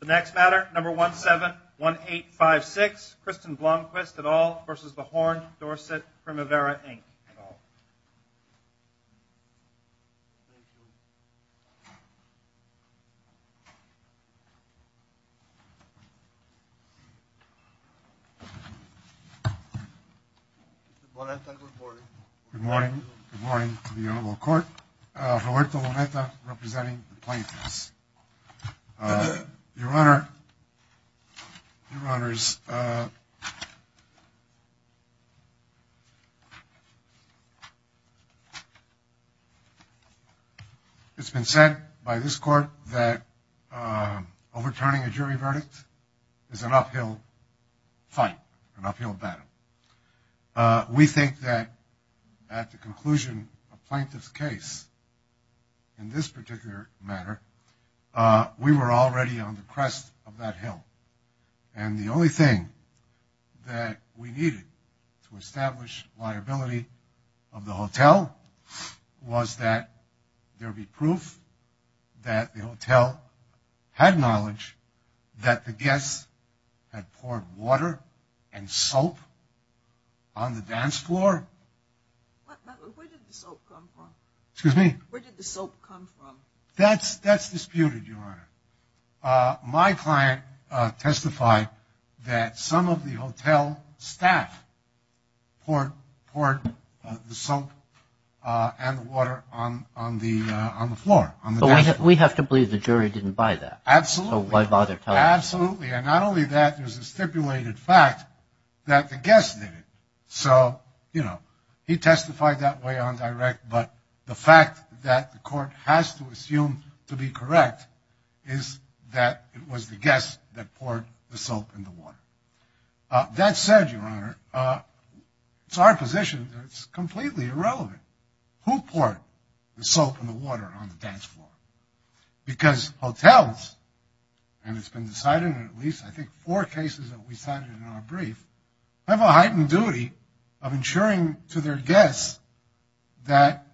The next matter, number 171856, Kristen Blomquist et al. v. Horned Dorset Primavera, Inc. Good morning. Good morning to the Honorable Court. Roberto Lometa representing the plaintiffs. Your Honor, it's been said by this Court that overturning a jury verdict is an uphill fight, an uphill battle. We think that at the conclusion of a plaintiff's case in this particular matter, we were already on the crest of that hill. And the only thing that we needed to establish liability of the hotel was that there be proof that the hotel had knowledge that the guests had poured water and soap on the dance floor. Where did the soap come from? Excuse me? Where did the soap come from? That's disputed, Your Honor. My client testified that some of the hotel staff poured the soap and water on the floor, on the dance floor. We have to believe the jury didn't buy that. Absolutely. So why bother telling us? Absolutely. And not only that, there's a stipulated fact that the guests did it. So, you know, he testified that way on direct, but the fact that the Court has to assume to be correct is that it was the guests that poured the soap and the water. That said, Your Honor, it's our position that it's completely irrelevant. Who poured the soap and the water on the dance floor? Because hotels, and it's been decided in at least I think four cases that we cited in our brief, have a heightened duty of ensuring to their guests that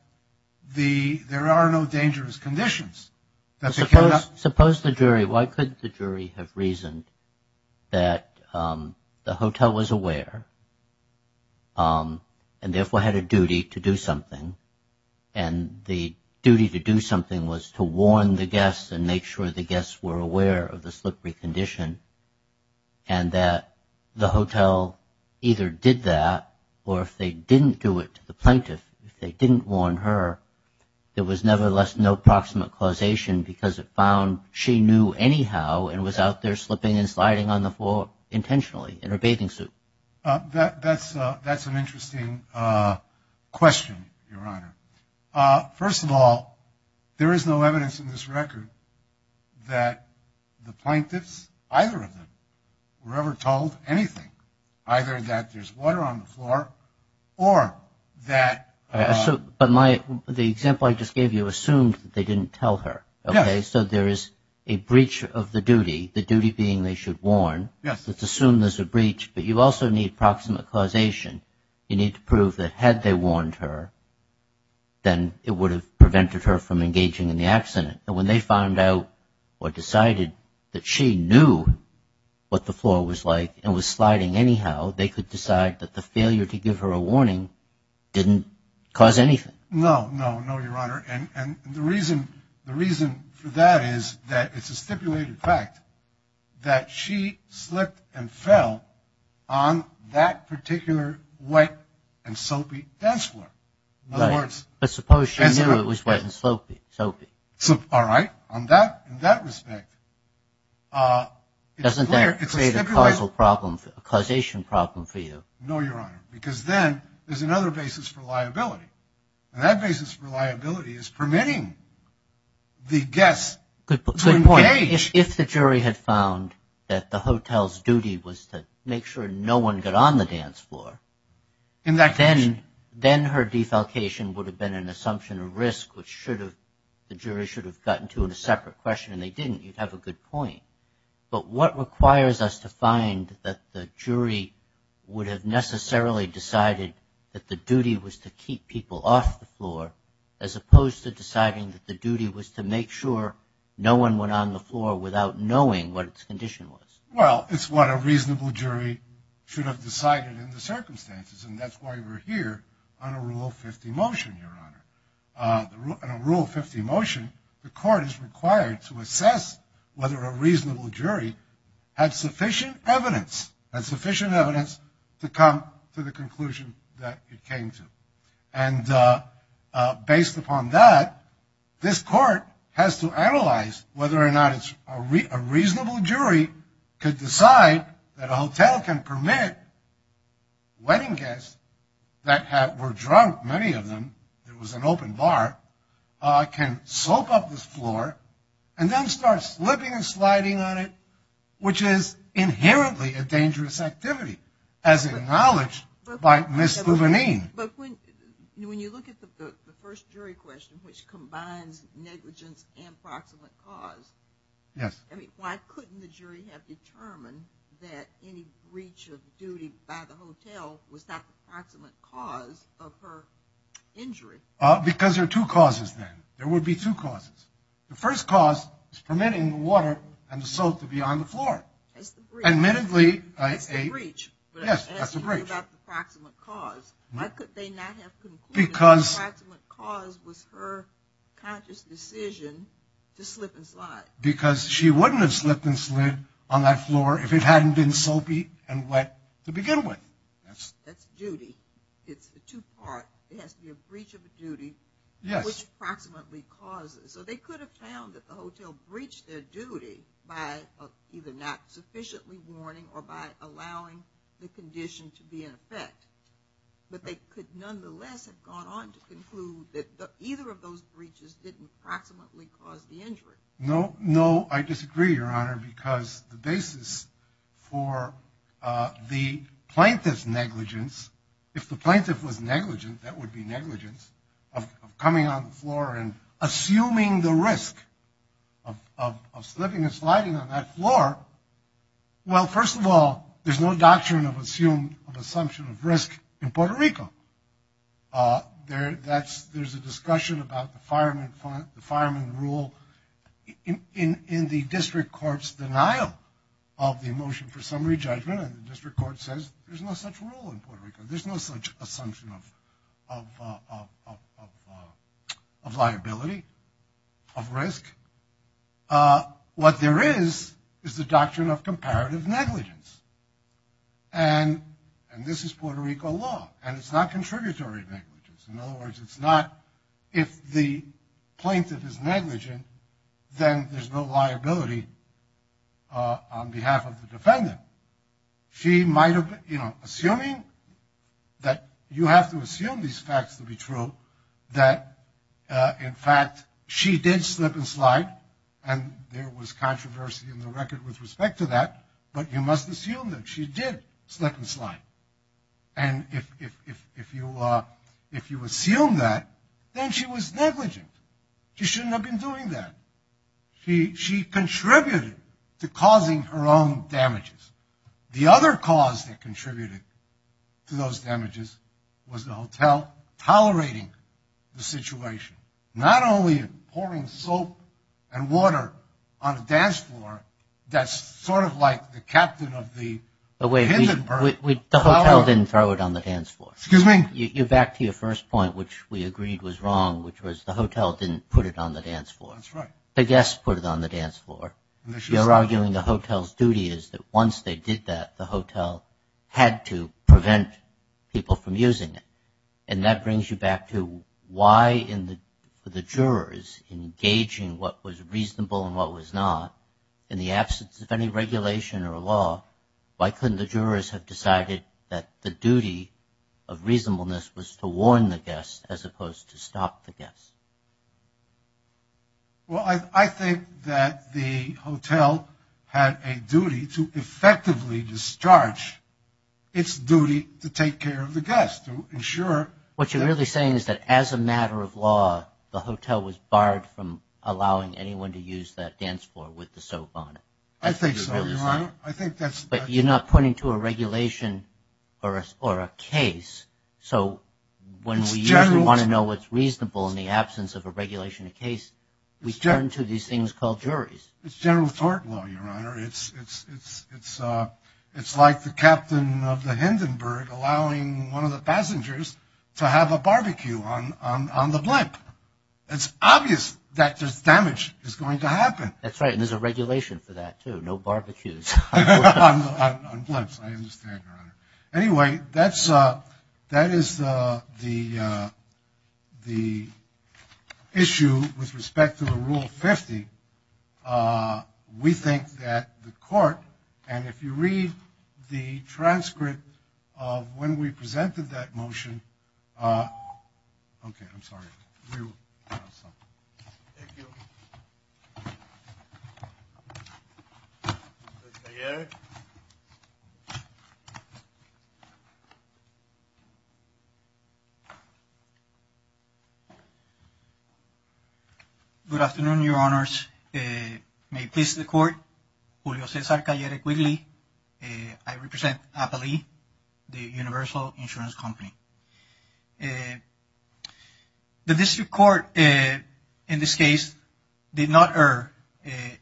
there are no dangerous conditions. Suppose the jury, why couldn't the jury have reasoned that the hotel was aware and therefore had a duty to do something? And the duty to do something was to warn the guests and make sure the guests were aware of the slippery condition and that the hotel either did that or if they didn't do it to the plaintiff, if they didn't warn her, there was nevertheless no proximate causation because it found she knew anyhow and was out there slipping and sliding on the floor intentionally in her bathing suit. That's an interesting question, Your Honor. First of all, there is no evidence in this record that the plaintiffs, either of them, were ever told anything, either that there's water on the floor or that. But the example I just gave you assumed they didn't tell her. Okay, so there is a breach of the duty, the duty being they should warn. It's assumed there's a breach, but you also need proximate causation. You need to prove that had they warned her, then it would have prevented her from engaging in the accident. And when they found out or decided that she knew what the floor was like and was sliding anyhow, they could decide that the failure to give her a warning didn't cause anything. No, no, no, Your Honor. And the reason for that is that it's a stipulated fact that she slipped and fell on that particular wet and soapy dance floor. Right. But suppose she knew it was wet and soapy. All right. In that respect, it's clear. Doesn't that create a causal problem, a causation problem for you? No, Your Honor, because then there's another basis for liability. And that basis for liability is permitting the guest to engage. Good point. If the jury had found that the hotel's duty was to make sure no one got on the dance floor, then her defalcation would have been an assumption of risk, which the jury should have gotten to in a separate question, and they didn't. You'd have a good point. But what requires us to find that the jury would have necessarily decided that the duty was to keep people off the floor, as opposed to deciding that the duty was to make sure no one went on the floor without knowing what its condition was? Well, it's what a reasonable jury should have decided in the circumstances, and that's why we're here on a Rule 50 motion, Your Honor. On a Rule 50 motion, the court is required to assess whether a reasonable jury had sufficient evidence, to come to the conclusion that it came to. And based upon that, this court has to analyze whether or not a reasonable jury could decide that a hotel can permit wedding guests that were drunk, many of them, it was an open bar, can soap up this floor and then start slipping and sliding on it, which is inherently a dangerous activity, as acknowledged by Ms. Gouvernine. But when you look at the first jury question, which combines negligence and proximate cause, I mean, why couldn't the jury have determined that any breach of duty by the hotel was not the proximate cause of her injury? Because there are two causes, then. There would be two causes. The first cause is permitting the water and the soap to be on the floor. That's the breach. Admittedly, a... That's the breach. Yes, that's the breach. But as you know about the proximate cause, why could they not have concluded that the proximate cause was her conscious decision to slip and slide? Because she wouldn't have slipped and slid on that floor if it hadn't been soapy and wet to begin with. That's duty. It's a two-part. It has to be a breach of duty... Yes. ...which proximately causes. So they could have found that the hotel breached their duty by either not sufficiently warning or by allowing the condition to be in effect. But they could nonetheless have gone on to conclude that either of those breaches didn't proximately cause the injury. No, I disagree, Your Honor, because the basis for the plaintiff's negligence, if the plaintiff was negligent, that would be negligence of coming on the floor and assuming the risk of slipping and sliding on that floor. Well, first of all, there's no doctrine of assumption of risk in Puerto Rico. There's a discussion about the fireman rule in the district court's denial of the motion for summary judgment, and the district court says there's no such rule in Puerto Rico. There's no such assumption of liability, of risk. What there is is the doctrine of comparative negligence, and this is Puerto Rico law, and it's not contributory negligence. In other words, it's not if the plaintiff is negligent, then there's no liability on behalf of the defendant. Assuming that you have to assume these facts to be true, that, in fact, she did slip and slide, and there was controversy in the record with respect to that, but you must assume that she did slip and slide. And if you assume that, then she was negligent. She shouldn't have been doing that. She contributed to causing her own damages. The other cause that contributed to those damages was the hotel tolerating the situation, not only pouring soap and water on a dance floor that's sort of like the captain of the Hindenburg Hotel. The hotel didn't throw it on the dance floor. Excuse me? You're back to your first point, which we agreed was wrong, which was the hotel didn't put it on the dance floor. That's right. The guests put it on the dance floor. You're arguing the hotel's duty is that once they did that, the hotel had to prevent people from using it. And that brings you back to why in the jurors engaging what was reasonable and what was not, in the absence of any regulation or law, why couldn't the jurors have decided that the duty of reasonableness was to warn the guests as opposed to stop the guests? Well, I think that the hotel had a duty to effectively discharge its duty to take care of the guests, to ensure that... What you're really saying is that as a matter of law, the hotel was barred from allowing anyone to use that dance floor with the soap on it. I think so, Your Honor. I think that's... But you're not pointing to a regulation or a case. So when we usually want to know what's reasonable in the absence of a regulation or case, we turn to these things called juries. It's general tort law, Your Honor. It's like the captain of the Hindenburg allowing one of the passengers to have a barbecue on the blimp. It's obvious that there's damage that's going to happen. That's right, and there's a regulation for that, too. No barbecues. On blimps, I understand, Your Honor. Anyway, that is the issue with respect to the Rule 50. We think that the court, and if you read the transcript of when we presented that motion... Okay, I'm sorry. Thank you. Good afternoon, Your Honors. May it please the Court, Julio Cesar Callere Quigley. I represent Appalee, the Universal Insurance Company. The district court, in this case, did not err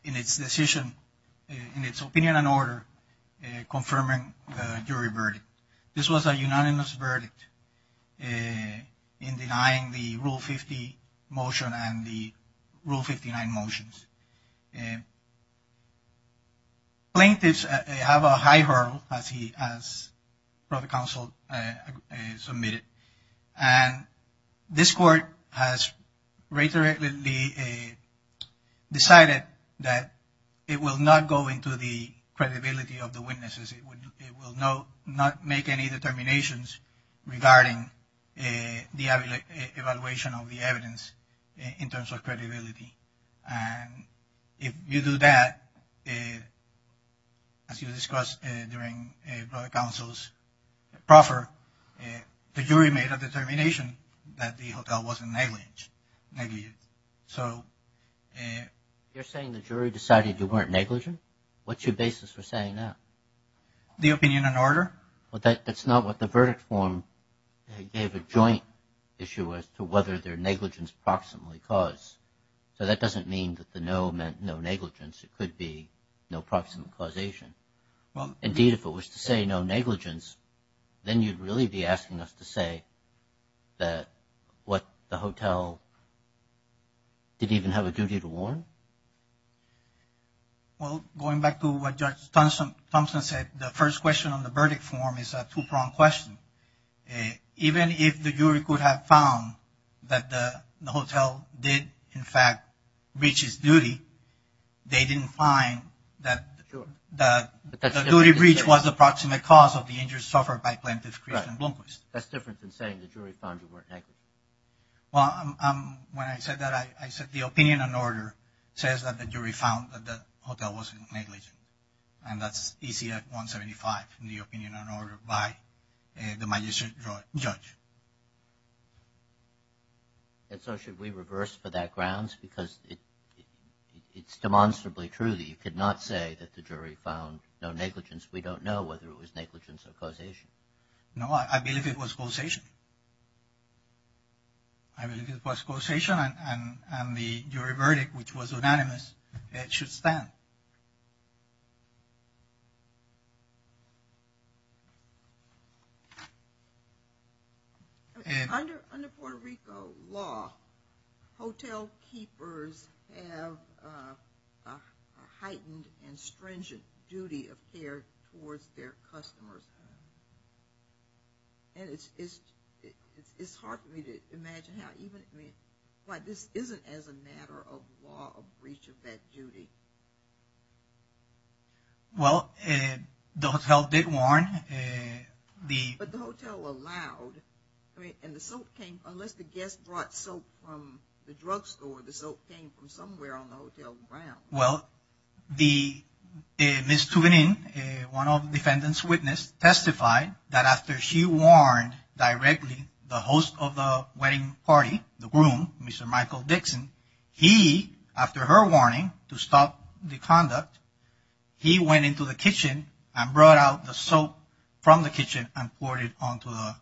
in its decision, in its opinion and order, confirming the jury verdict. This was a unanimous verdict in denying the Rule 50 motion and the Rule 59 motions. Plaintiffs have a high hurdle, as the counsel submitted. And this court has decided that it will not go into the credibility of the witnesses. It will not make any determinations regarding the evaluation of the evidence in terms of credibility. And if you do that, as you discussed during the counsel's proffer, the jury made a determination that the hotel wasn't negligent. You're saying the jury decided you weren't negligent? What's your basis for saying that? The opinion and order. But that's not what the verdict form gave a joint issue as to whether their negligence proximally caused. So that doesn't mean that the no meant no negligence. It could be no proximate causation. Indeed, if it was to say no negligence, then you'd really be asking us to say that what the hotel did even have a duty to warn? Well, going back to what Judge Thompson said, the first question on the verdict form is a two-pronged question. Even if the jury could have found that the hotel did, in fact, breach its duty, they didn't find that the duty breach was a proximate cause of the injuries suffered by Plaintiffs Christian and Blomquist. That's different than saying the jury found you weren't negligent. Well, when I said that, I said the opinion and order says that the jury found that the hotel wasn't negligent. And that's ECF 175 in the opinion and order by the magistrate judge. And so should we reverse for that grounds? Because it's demonstrably true that you could not say that the jury found no negligence. We don't know whether it was negligence or causation. No, I believe it was causation. I believe it was causation and the jury verdict, which was unanimous, should stand. Under Puerto Rico law, hotel keepers have a heightened and stringent duty of care towards their customers. And it's hard for me to imagine how even – this isn't as a matter of law a breach of that duty. Well, the hotel did warn the – But the hotel allowed. I mean, and the soap came – unless the guest brought soap from the drugstore, the soap came from somewhere on the hotel grounds. Well, Ms. Tuvanin, one of the defendant's witness, testified that after she warned directly the host of the wedding party, the groom, Mr. Michael Dixon, he, after her warning to stop the conduct, he went into the kitchen and brought out the soap from the kitchen and poured it onto the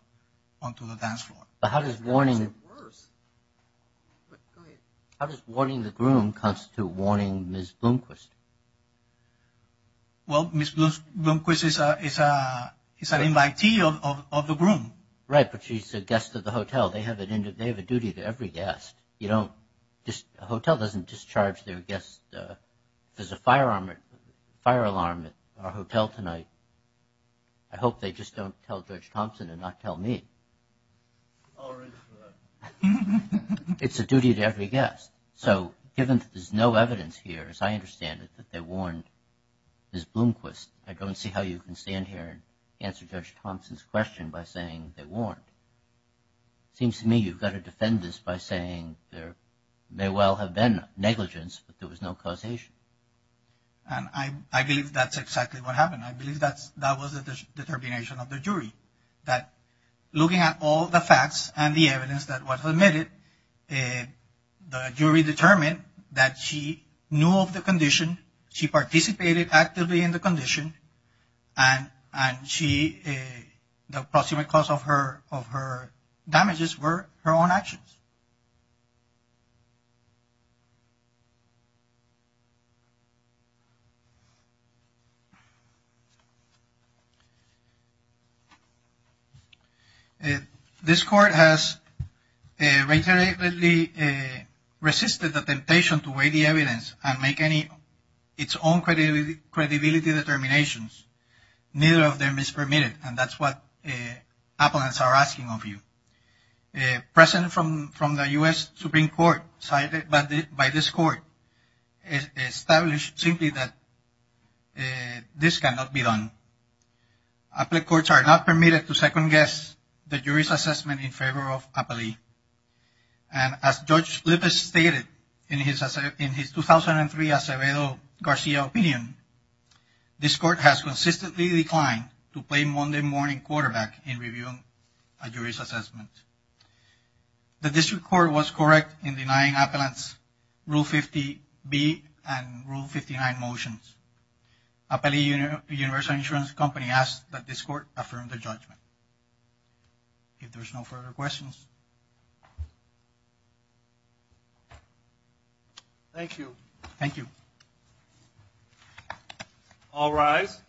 dance floor. But how does warning – how does warning the groom constitute warning Ms. Blomquist? Well, Ms. Blomquist is an invitee of the groom. Right, but she's a guest of the hotel. They have a duty to every guest. You don't – a hotel doesn't discharge their guests. There's a fire alarm at our hotel tonight. I hope they just don't tell Judge Thompson and not tell me. It's a duty to every guest. So given that there's no evidence here, as I understand it, that they warned Ms. Blomquist, I'd go and see how you can stand here and answer Judge Thompson's question by saying they warned. It seems to me you've got to defend this by saying there may well have been negligence, but there was no causation. And I believe that's exactly what happened. I believe that was the determination of the jury, that looking at all the facts and the evidence that was admitted, the jury determined that she knew of the condition, she participated actively in the condition, and the approximate cause of her damages were her own actions. This court has reiteratedly resisted the temptation to weigh the evidence and make its own credibility determinations. Neither of them is permitted, and that's what applicants are asking of you. President from the U.S. Supreme Court, cited by this court, established simply that this cannot be done. Appellate courts are not permitted to second-guess the jury's assessment in favor of appellee. And as Judge Lippis stated in his 2003 Acevedo Garcia opinion, this court has consistently declined to play Monday morning quarterback in reviewing a jury's assessment. The district court was correct in denying appellants Rule 50B and Rule 59 motions. Appellee Universal Insurance Company asks that this court affirm the judgment. If there's no further questions. Thank you. Thank you. All rise.